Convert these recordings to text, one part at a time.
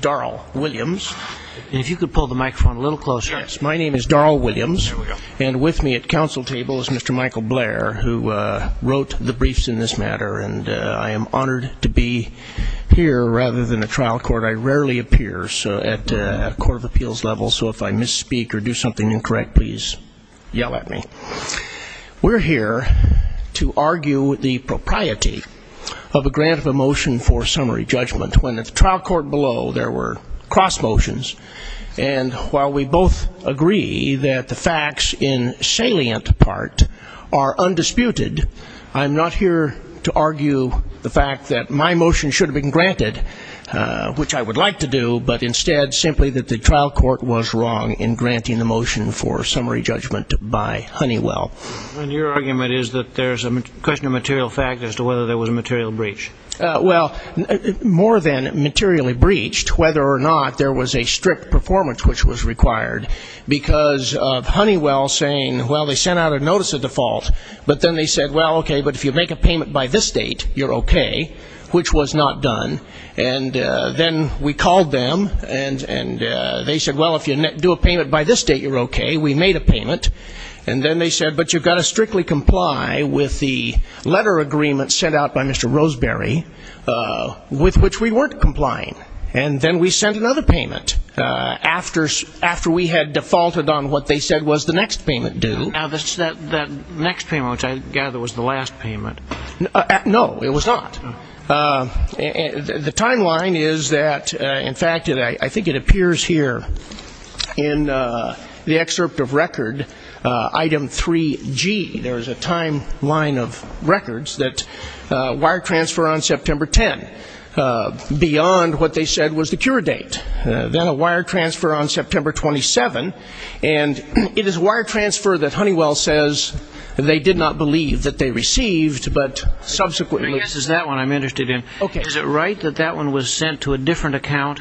Daryl Williams, Counsel Tables Mr. Michael Blair, who wrote the briefs in this matter and I am honored to be here rather than a trial court. I rarely appear at a court of appeals level, so if I misspeak or do something incorrect, please yell at me. We're here to argue the propriety of a grant of a motion for summary judgment when at the trial court below there were cross motions, and while we both agree that the facts in salient part are undisputed, I'm not here to argue the fact that my motion should have been granted, which I would like to do, but instead simply that the trial court was wrong in granting the motion for summary judgment by Honeywell. And your argument is that there's a question of material fact as to whether there was a material breach? Well, more than materially breached, whether or not there was a strict performance which was required, because of Honeywell saying, well, they sent out a notice of default, but then they said, well, okay, but if you make a payment by this date, you're okay, which was not done. And then we called them, and they said, well, if you do a payment by this date, you're okay. We made a payment. And then they said, but you've got to strictly comply with the letter agreement sent out by Mr. Roseberry, with which we weren't complying. And then we sent another payment after we had defaulted on what they said was the next payment due. Now, that next payment, which I gather was the last payment. No, it was not. The timeline is that, in fact, I think it appears here in the excerpt of record, item 3G, there is a timeline of records that wire transfer on September 10, beyond what they said was the cure date. Then a wire transfer on September 27, and it is wire transfer that Honeywell says they did not believe that they received, but subsequently... Yes, it's that one I'm interested in. Is it right that that one was sent to a different account?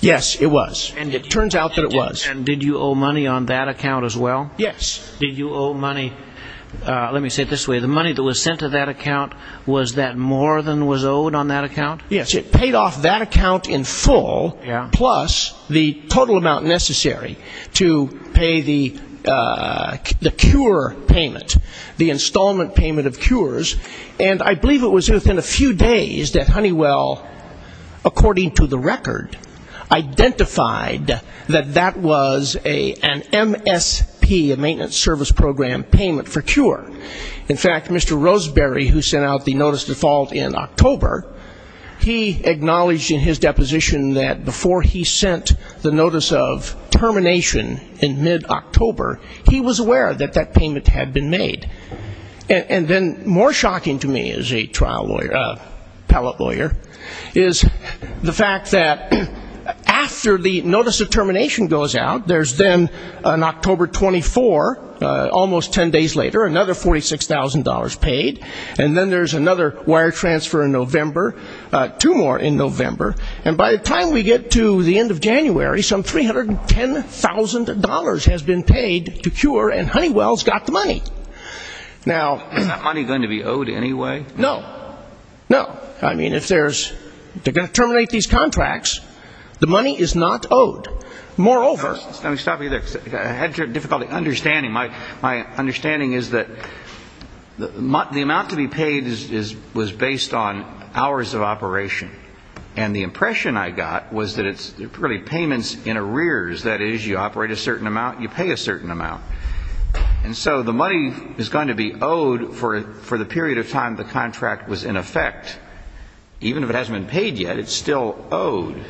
Yes, it was. And it turns out that it was. And did you owe money on that account as well? Yes. Did you owe money, let me say it this way, the money that was sent to that account, was that more than was owed on that account? Yes, it paid off that account in full, plus the total amount necessary to pay the cure payment, the installment payment of cures. And I believe it was within a few days that Honeywell, according to the record, identified that that was an MSP, a maintenance service program payment for cure. In fact, Mr. Roseberry, who sent out the notice of default in October, he acknowledged in his deposition that before he sent the notice of termination in mid-October, he was aware that that payment had been made. And then more shocking to me as a trial lawyer, appellate lawyer, is the fact that after the notice of termination goes out, there's then an October 24, almost ten days later, another $46,000 paid, and then there's another wire transfer in November, two more in November, and by the time we get to the end of January, some $310,000 has been paid to cure and Honeywell's got the money. Is that money going to be owed anyway? No. No. I mean, if there's going to terminate these contracts, the money is not owed. Moreover --" Let me stop you there. I had difficulty understanding. My understanding is that the amount to be paid was based on hours of operation. And the impression I got was that it's really payments in arrears, that is, you operate a certain amount, you pay a certain amount. And so the money is going to be owed for the period of time the contract was in effect. Even if it hasn't been paid yet, it's still owed.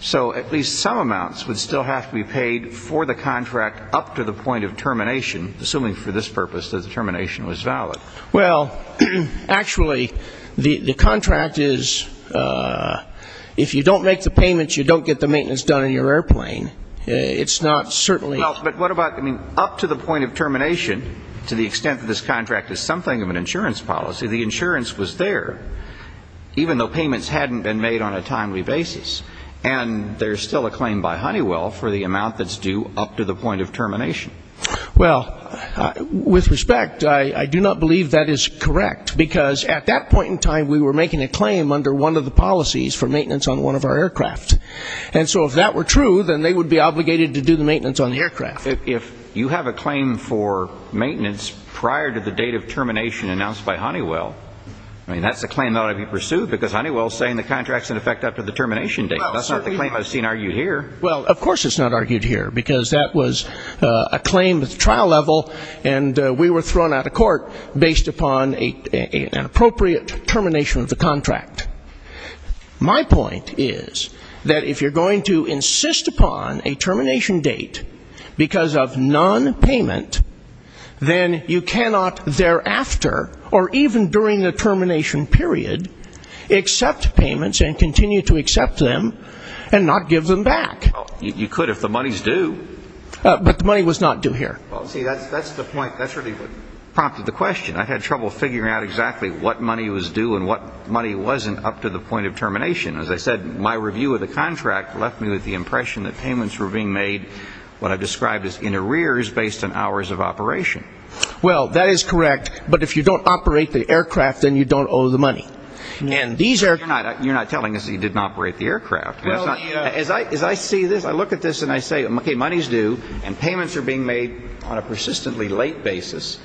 So at least some amounts would still have to be paid for the contract up to the point of termination, assuming for this purpose that the termination was valid. Well, actually, the contract is, if you don't make the payments, you don't get the maintenance done on your airplane. It's not certainly up to the point of termination, to the extent that this contract is something of an insurance policy. The insurance was there, even though payments hadn't been made on a timely basis. And there's still a claim by Honeywell for the amount that's due up to the point of termination. Well, with respect, I do not believe that is correct, because at that point in time we were making a claim under one of the policies for maintenance on one of our aircraft. And so if that were true, then they would be obligated to do the maintenance on the aircraft. If you have a claim for maintenance prior to the date of termination announced by Honeywell, I mean, that's a claim that ought to be pursued, because Honeywell is saying the contract's in effect after the termination date. That's not the claim I've seen argued here. Well, of course it's not argued here, because that was a claim at the trial level, and we were thrown out of court based upon an appropriate termination of the contract. My point is that if you're going to insist upon a termination date because of nonpayment, then you cannot thereafter or even during the termination period accept payments and continue to accept them and not give them back. You could if the money's due. But the money was not due here. Well, see, that's the point. That's really what prompted the question. I had trouble figuring out exactly what money was due and what money wasn't up to the point of termination. As I said, my review of the contract left me with the impression that payments were being made, what I've described as in arrears, based on hours of operation. Well, that is correct. But if you don't operate the aircraft, then you don't owe the money. You're not telling us that you didn't operate the aircraft. As I see this, I look at this and I say, okay, money's due, and payments are being made on a persistently late basis,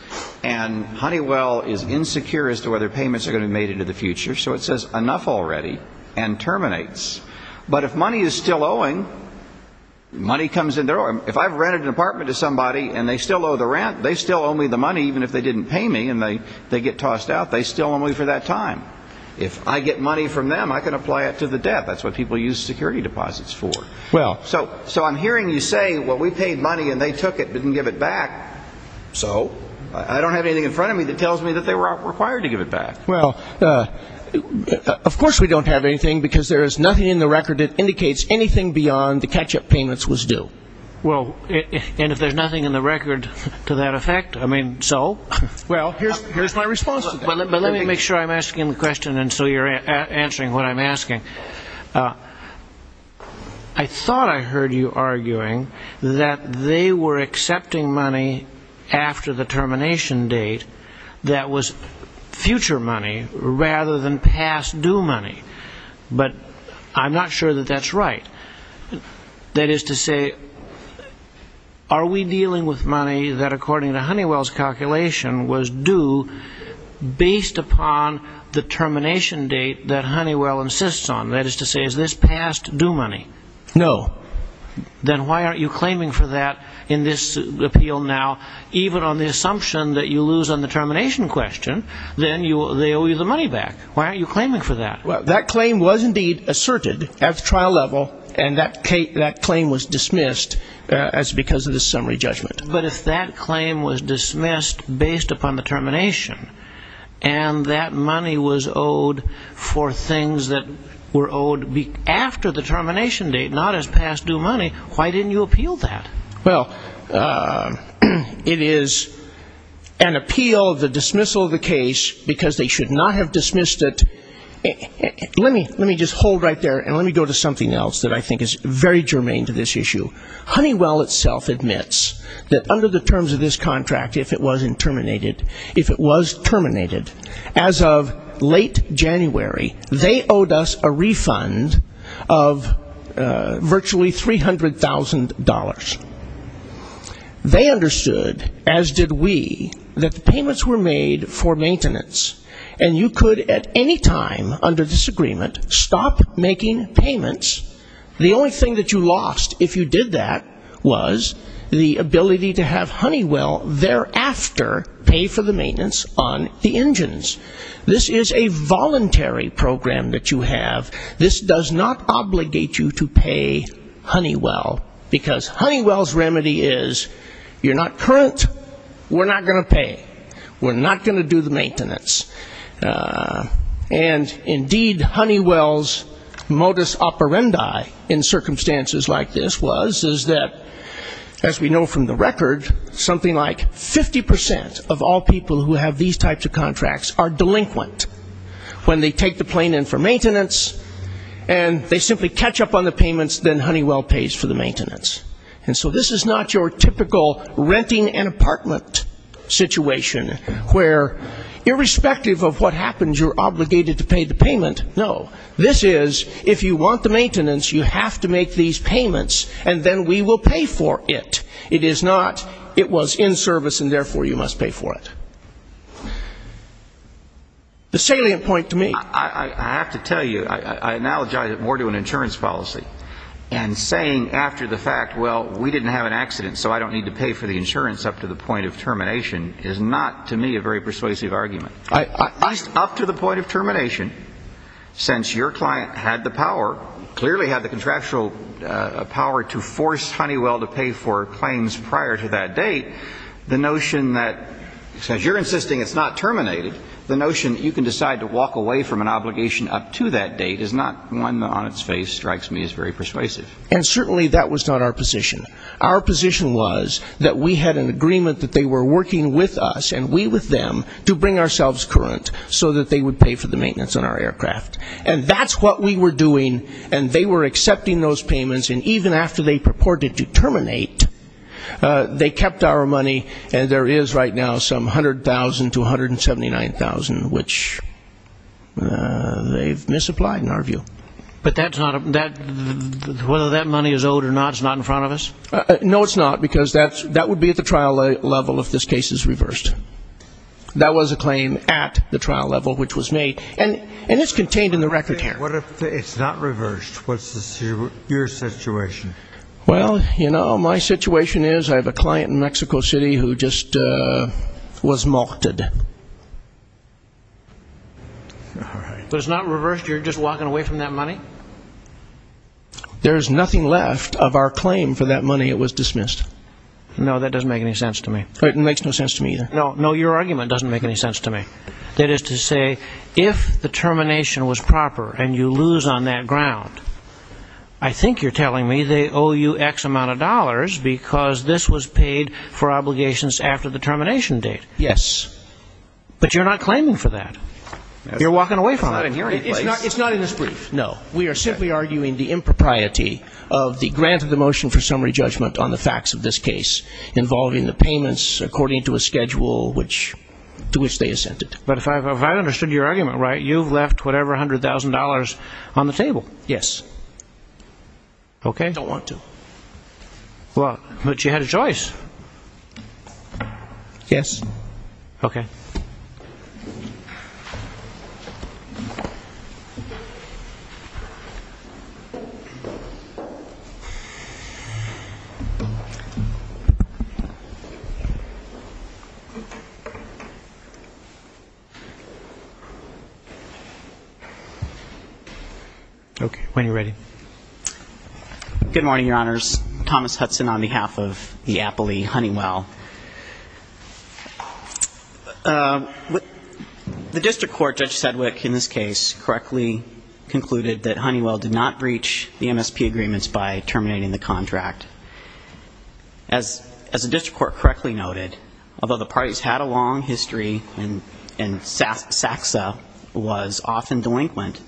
and Honeywell is insecure as to whether payments are going to be made into the future, so it says enough already and terminates. But if money is still owing, money comes in. If I've rented an apartment to somebody and they still owe the rent, they still owe me the money, even if they didn't pay me and they get tossed out, they still owe me for that time. If I get money from them, I can apply it to the debt. That's what people use security deposits for. So I'm hearing you say, well, we paid money and they took it, didn't give it back. So I don't have anything in front of me that tells me that they were required to give it back. Well, of course we don't have anything, because there is nothing in the record that indicates anything beyond the catch-up payments was due. Well, and if there's nothing in the record to that effect, I mean, so? Well, here's my response to that. But let me make sure I'm asking the question and so you're answering what I'm asking. I thought I heard you arguing that they were accepting money after the termination date that was future money rather than past due money. But I'm not sure that that's right. That is to say, are we dealing with money that, according to Honeywell's calculation, was due based upon the termination date that Honeywell insists on? That is to say, is this past due money? No. Then why aren't you claiming for that in this appeal now? Even on the assumption that you lose on the termination question, then they owe you the money back. Why aren't you claiming for that? Well, that claim was indeed asserted at the trial level, and that claim was dismissed because of the summary judgment. But if that claim was dismissed based upon the termination, and that money was owed for things that were owed after the termination date, not as past due money, why didn't you appeal that? Well, it is an appeal of the dismissal of the case because they should not have dismissed it. Let me just hold right there, and let me go to something else that I think is very germane to this issue. Honeywell itself admits that under the terms of this contract, if it was terminated, as of late January, they owed us a refund of virtually $300,000. They understood, as did we, that the payments were made for maintenance. And you could at any time, under this agreement, stop making payments. The only thing that you lost if you did that was the ability to have Honeywell thereafter pay for the maintenance on the engines. This is a voluntary program that you have. This does not obligate you to pay Honeywell because Honeywell's remedy is you're not current, we're not going to pay. We're not going to do the maintenance. And, indeed, Honeywell's modus operandi in circumstances like this was, is that, as we know from the record, something like 50% of all people who have these types of contracts are delinquent when they take the plane in for maintenance, and they simply catch up on the payments, then Honeywell pays for the maintenance. And so this is not your typical renting an apartment situation, where, irrespective of what happens, you're obligated to pay the payment. No. This is, if you want the maintenance, you have to make these payments, and then we will pay for it. It is not, it was in service and therefore you must pay for it. The salient point to me. I have to tell you, I analogize it more to an insurance policy. And saying after the fact, well, we didn't have an accident, so I don't need to pay for the insurance up to the point of termination, is not, to me, a very persuasive argument. At least up to the point of termination, since your client had the power, clearly had the contractual power to force Honeywell to pay for planes prior to that date, the notion that, since you're insisting it's not terminated, the notion that you can decide to walk away from an obligation up to that date is not one that on its face strikes me as very persuasive. And certainly that was not our position. Our position was that we had an agreement that they were working with us, and we with them, to bring ourselves current so that they would pay for the maintenance on our aircraft. And that's what we were doing, and they were accepting those payments, and even after they purported to terminate, they kept our money, and there is right now some $100,000 to $179,000, which they've misapplied in our view. But whether that money is owed or not is not in front of us? No, it's not, because that would be at the trial level if this case is reversed. That was a claim at the trial level, which was made, and it's contained in the record here. What if it's not reversed? What's your situation? Well, you know, my situation is I have a client in Mexico City who just was molted. All right. But it's not reversed? You're just walking away from that money? There is nothing left of our claim for that money. It was dismissed. No, that doesn't make any sense to me. It makes no sense to me either. No, no, your argument doesn't make any sense to me. That is to say, if the termination was proper and you lose on that ground, I think you're telling me they owe you X amount of dollars because this was paid for obligations after the termination date. Yes. But you're not claiming for that. You're walking away from that. It's not in here any place. It's not in this brief, no. We are simply arguing the impropriety of the grant of the motion for summary judgment on the facts of this case involving the payments according to a schedule to which they assented. But if I understood your argument right, you've left whatever $100,000 on the table. Yes. Okay. I don't want to. But you had a choice. Yes. Okay. Okay. When you're ready. Good morning, Your Honors. Thomas Hudson on behalf of the Appley Honeywell. The district court, Judge Sedwick, in this case, correctly concluded that Honeywell did not breach the MSP agreements by terminating the contract. As the district court correctly noted, although the parties had a long history and SACSA was often delinquent,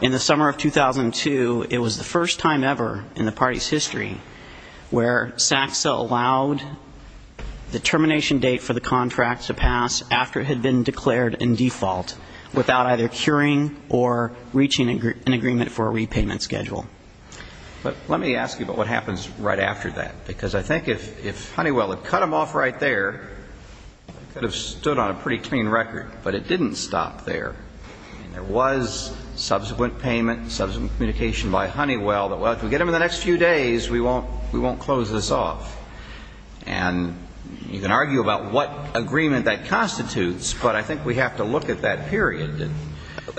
in the summer of 2002, it was the first time ever in the party's history where SACSA allowed the termination date for the contract to pass after it had been declared in default without either curing or reaching an agreement for a repayment schedule. But let me ask you about what happens right after that. Because I think if Honeywell had cut them off right there, it could have stood on a pretty clean record. But it didn't stop there. There was subsequent payment, subsequent communication by Honeywell that, well, if we get them in the next few days, we won't close this off. And you can argue about what agreement that constitutes, but I think we have to look at that period.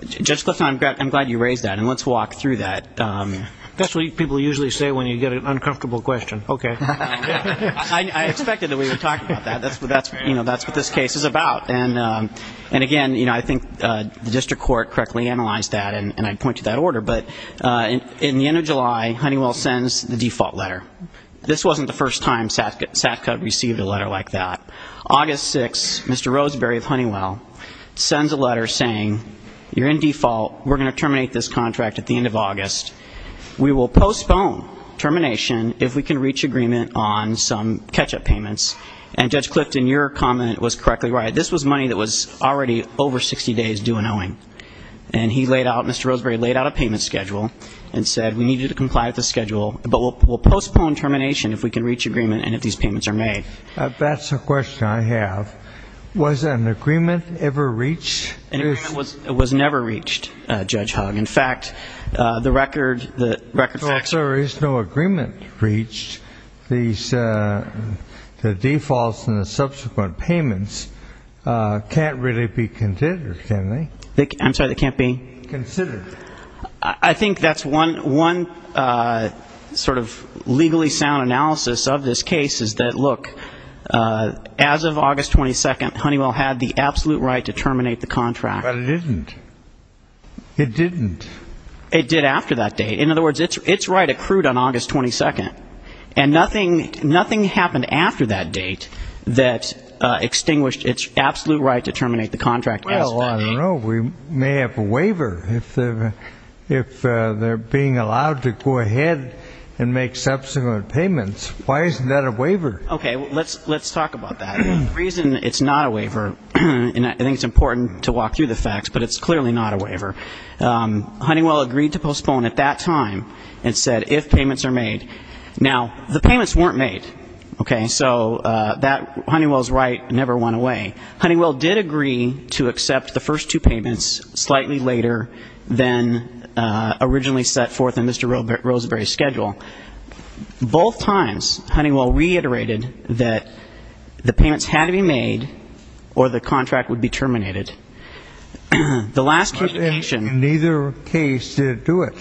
Judge Clifton, I'm glad you raised that, and let's walk through that. That's what people usually say when you get an uncomfortable question. Okay. I expected that we would talk about that. That's what this case is about. And, again, I think the district court correctly analyzed that, and I'd point to that order. But in the end of July, Honeywell sends the default letter. This wasn't the first time SACSA received a letter like that. August 6, Mr. Roseberry of Honeywell sends a letter saying, you're in default, we're going to terminate this contract at the end of August. We will postpone termination if we can reach agreement on some catch-up payments. And Judge Clifton, your comment was correctly right. This was money that was already over 60 days due and owing. And he laid out, Mr. Roseberry laid out a payment schedule and said we need you to comply with the schedule, but we'll postpone termination if we can reach agreement and if these payments are made. That's a question I have. Was an agreement ever reached? An agreement was never reached, Judge Hogg. In fact, the record facts are no agreement reached. The defaults and the subsequent payments can't really be considered, can they? I'm sorry, they can't be? Considered. I think that's one sort of legally sound analysis of this case is that, look, as of August 22, Honeywell had the absolute right to terminate the contract. But it didn't. It didn't. It did after that date. In other words, its right accrued on August 22. And nothing happened after that date that extinguished its absolute right to terminate the contract. Well, we may have a waiver if they're being allowed to go ahead and make subsequent payments. Why isn't that a waiver? Okay. Let's talk about that. The reason it's not a waiver, and I think it's important to walk through the facts, but it's clearly not a waiver. Honeywell agreed to postpone at that time and said if payments are made. Now, the payments weren't made, okay? So Honeywell's right never went away. Honeywell did agree to accept the first two payments slightly later than originally set forth in Mr. Roseberry's schedule. Both times Honeywell reiterated that the payments had to be made or the contract would be terminated. The last communication. But in neither case did it do it.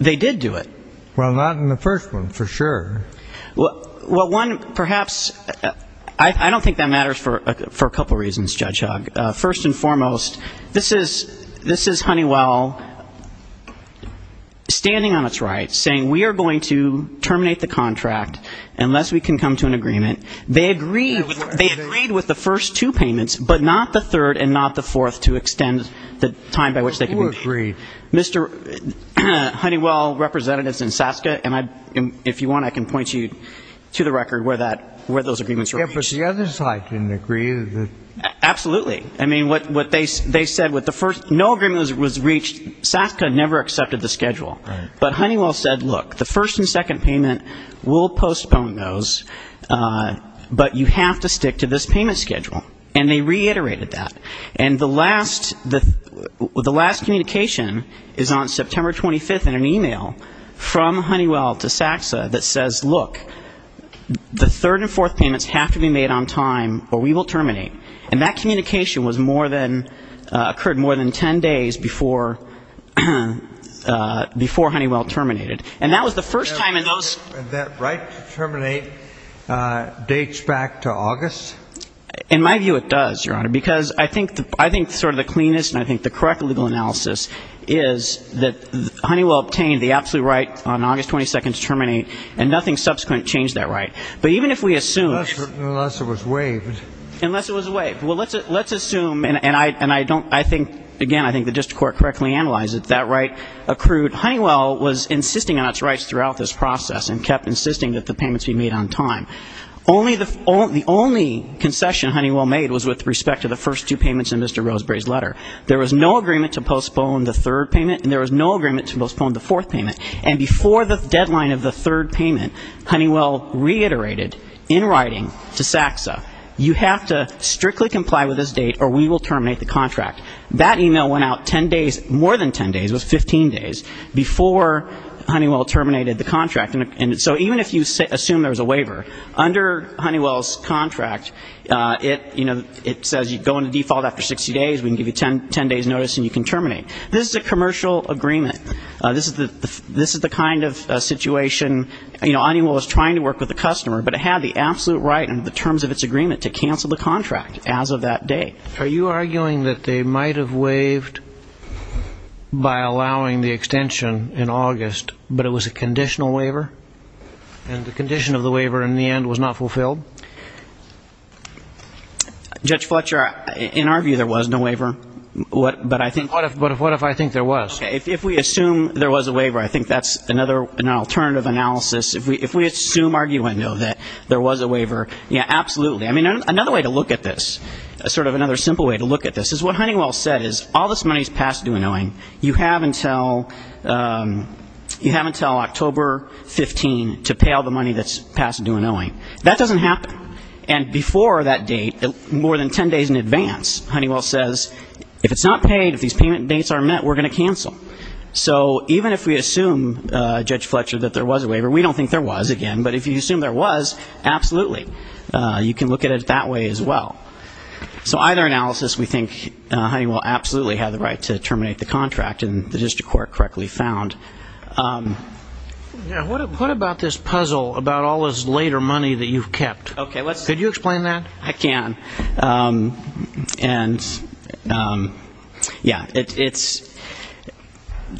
They did do it. Well, not in the first one for sure. Well, one, perhaps, I don't think that matters for a couple reasons, Judge Hogg. First and foremost, this is Honeywell standing on its right, saying we are going to terminate the contract unless we can come to an agreement. They agreed with the first two payments, but not the third and not the fourth to extend the time by which they could be made. Who agreed? Mr. Honeywell, representatives in SASCA, and if you want, I can point you to the record where those agreements were reached. Yeah, but the other side didn't agree. Absolutely. I mean, what they said with the first, no agreement was reached. SASCA never accepted the schedule. But Honeywell said, look, the first and second payment, we'll postpone those, but you have to stick to this payment schedule. And they reiterated that. And the last, the last communication is on September 25th in an e-mail from Honeywell to SASCA that says, look, the third and fourth payments have to be made on time or we will terminate. And that communication was more than, occurred more than ten days before Honeywell terminated. And that was the first time in those --. And that right to terminate dates back to August? In my view, it does, Your Honor, because I think sort of the cleanest and I think the correct legal analysis is that Honeywell obtained the absolute right on August 22nd to terminate and nothing subsequent changed that right. But even if we assume --. Unless it was waived. Unless it was waived. Well, let's assume, and I don't, I think, again, I think the district court correctly analyzed it, that right accrued. Honeywell was insisting on its rights throughout this process and kept insisting that the payments be made on time. Only the, the only concession Honeywell made was with respect to the first two payments in Mr. Roseberry's letter. There was no agreement to postpone the third payment and there was no agreement to postpone the fourth payment. And before the deadline of the third payment, Honeywell reiterated in writing to SASCA, you have to strictly comply with this date or we will terminate the contract. That e-mail went out ten days, more than ten days, it was 15 days before Honeywell terminated the contract. And so even if you assume there's a waiver, under Honeywell's contract, it, you know, it says you go into default after 60 days, we can give you ten days notice and you can terminate. This is a commercial agreement. This is the kind of situation, you know, Honeywell was trying to work with the customer, but it had the absolute right under the terms of its agreement to cancel the contract as of that date. Are you arguing that they might have waived by allowing the extension in August, but it was a conditional waiver? And the condition of the waiver in the end was not fulfilled? Judge Fletcher, in our view, there was no waiver. But I think... But what if I think there was? If we assume there was a waiver, I think that's another, an alternative analysis. If we assume, argue and know that there was a waiver, yeah, absolutely. I mean, another way to look at this, sort of another simple way to look at this, is what Honeywell said, is all this money is passed due in owing. You have until October 15 to pay all the money that's passed due in owing. That doesn't happen. And before that date, more than ten days in advance, Honeywell says, if it's not paid, if these payment dates aren't met, we're going to cancel. So even if we assume, Judge Fletcher, that there was a waiver, we don't think there was, again, but if you assume there was, absolutely. You can look at it that way as well. So either analysis, we think Honeywell absolutely had the right to terminate the contract, and the district court correctly found. What about this puzzle about all this later money that you've kept? Could you explain that? I can. And, yeah, it's,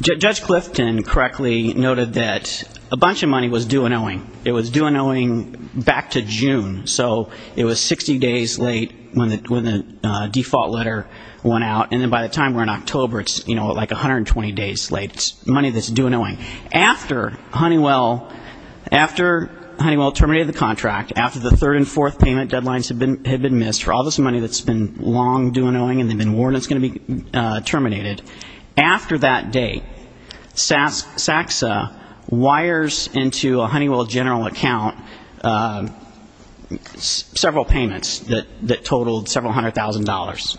Judge Clifton correctly noted that a bunch of money was due in owing. It was due in owing back to June. So it was 60 days late when the default letter went out. And then by the time we're in October, it's, you know, like 120 days late. It's money that's due in owing. After Honeywell, after Honeywell terminated the contract, after the third and fourth payment deadlines had been missed for all this money that's been long due in owing and they've been warned it's going to be terminated, after that date, SACSA wires into a Honeywell general account several payments that totaled several hundred thousand dollars.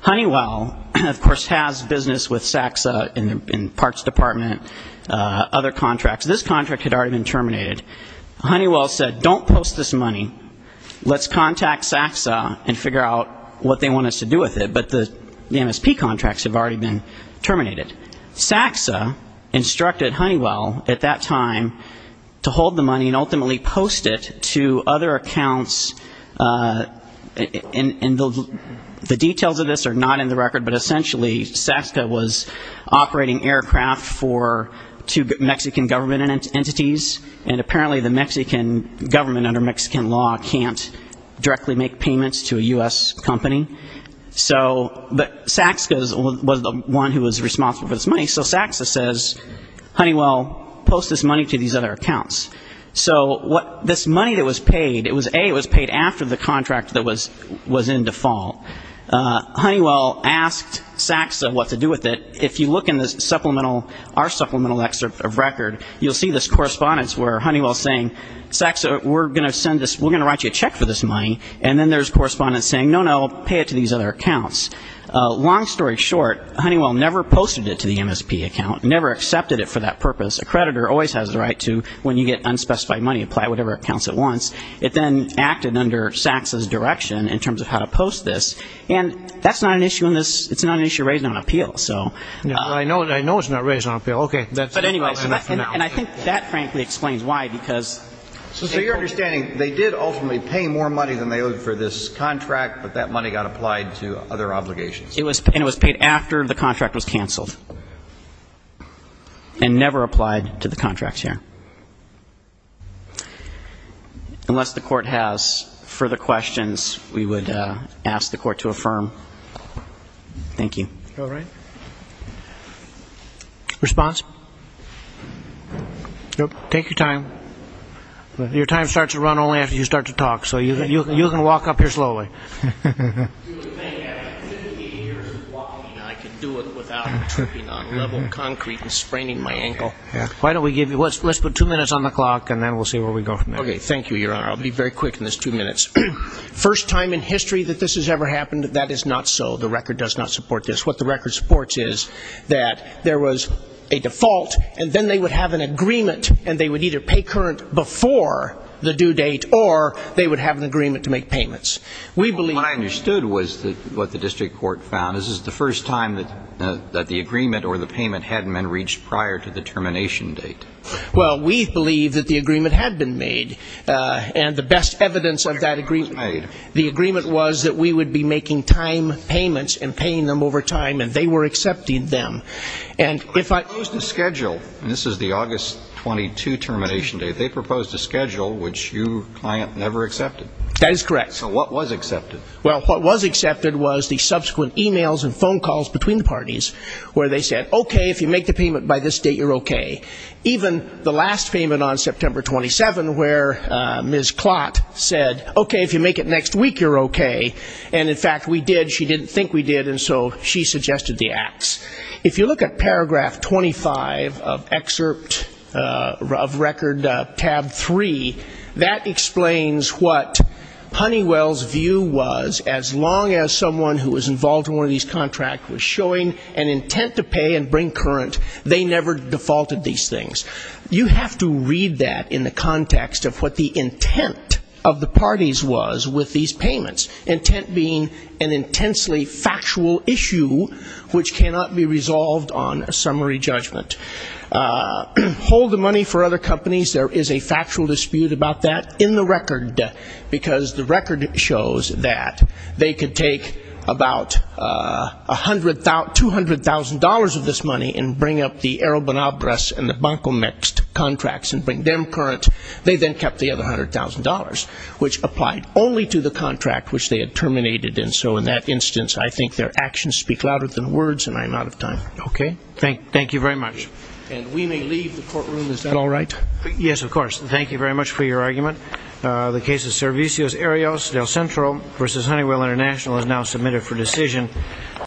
Honeywell, of course, has business with SACSA in the parts department, other contracts. This contract had already been terminated. Honeywell said, don't post this money. Let's contact SACSA and figure out what they want us to do with it. But the MSP contracts have already been terminated. SACSA instructed Honeywell at that time to hold the money and ultimately post it to other accounts. And the details of this are not in the record, but essentially SACSA was operating aircraft for two Mexican government entities, and apparently the Mexican government under Mexican law can't directly make payments to a U.S. company. But SACSA was the one who was responsible for this money. So SACSA says, Honeywell, post this money to these other accounts. So this money that was paid, it was, A, it was paid after the contract that was in default. Honeywell asked SACSA what to do with it. If you look in the supplemental, our supplemental excerpt of record, you'll see this correspondence where Honeywell's saying, SACSA, we're going to write you a check for this money. And then there's correspondence saying, no, no, pay it to these other accounts. Long story short, Honeywell never posted it to the MSP account, never accepted it for that purpose. A creditor always has the right to, when you get unspecified money, apply it to whatever accounts it wants. It then acted under SACSA's direction in terms of how to post this. And that's not an issue in this, it's not an issue raised on appeal, so. I know it's not raised on appeal. But anyway, and I think that frankly explains why, because. So your understanding, they did ultimately pay more money than they owed for this contract, but that money got applied to other obligations. And it was paid after the contract was canceled. And never applied to the contracts here. Unless the court has further questions, we would ask the court to affirm. Thank you. Response? Take your time. Your time starts to run only after you start to talk. So you can walk up here slowly. I can do it without tripping on level concrete and spraining my ankle. Why don't we give you, let's put two minutes on the clock, and then we'll see where we go from there. Okay, thank you, Your Honor. I'll be very quick in this two minutes. First time in history that this has ever happened, that is not so. The record does not support this. What the record supports is that there was a default, and then they would have an agreement, and they would either pay current before the due date, or they would have an agreement to make payments. What I understood was what the district court found, this is the first time that the agreement or the payment hadn't been reached prior to the termination date. Well, we believe that the agreement had been made. And the best evidence of that agreement, the agreement was that we would be making time payments and paying them over time, and they were accepting them. They proposed a schedule, and this is the August 22 termination date, they proposed a schedule which your client never accepted. That is correct. So what was accepted? Well, what was accepted was the subsequent e-mails and phone calls between the parties, where they said, okay, if you make the payment by this date, you're okay. Even the last payment on September 27, where Ms. Klott said, okay, if you make it next week, you're okay. And, in fact, we did, she didn't think we did, and so she suggested the acts. If you look at Paragraph 25 of Excerpt of Record, Tab 3, that explains what Honeywell's view was, as long as someone who was involved in one of these contracts was showing an intent to pay and bring current, they never defaulted these things. You have to read that in the context of what the intent of the parties was with these payments, intent being an intensely factual issue, which cannot be resolved on a summary judgment. Hold the money for other companies, there is a factual dispute about that in the record, because the record shows that they could take about $200,000 of this money and bring up the Arrobanabras and the Bancomext contracts and bring them current. They then kept the other $100,000, which applied only to the contract which they had terminated. And so, in that instance, I think their actions speak louder than words, and I'm out of time. Okay. Thank you very much. And we may leave the courtroom. Is that all right? Yes, of course. Thank you very much for your argument. The case of Servicios-Arios del Centro v. Honeywell International is now submitted for decision.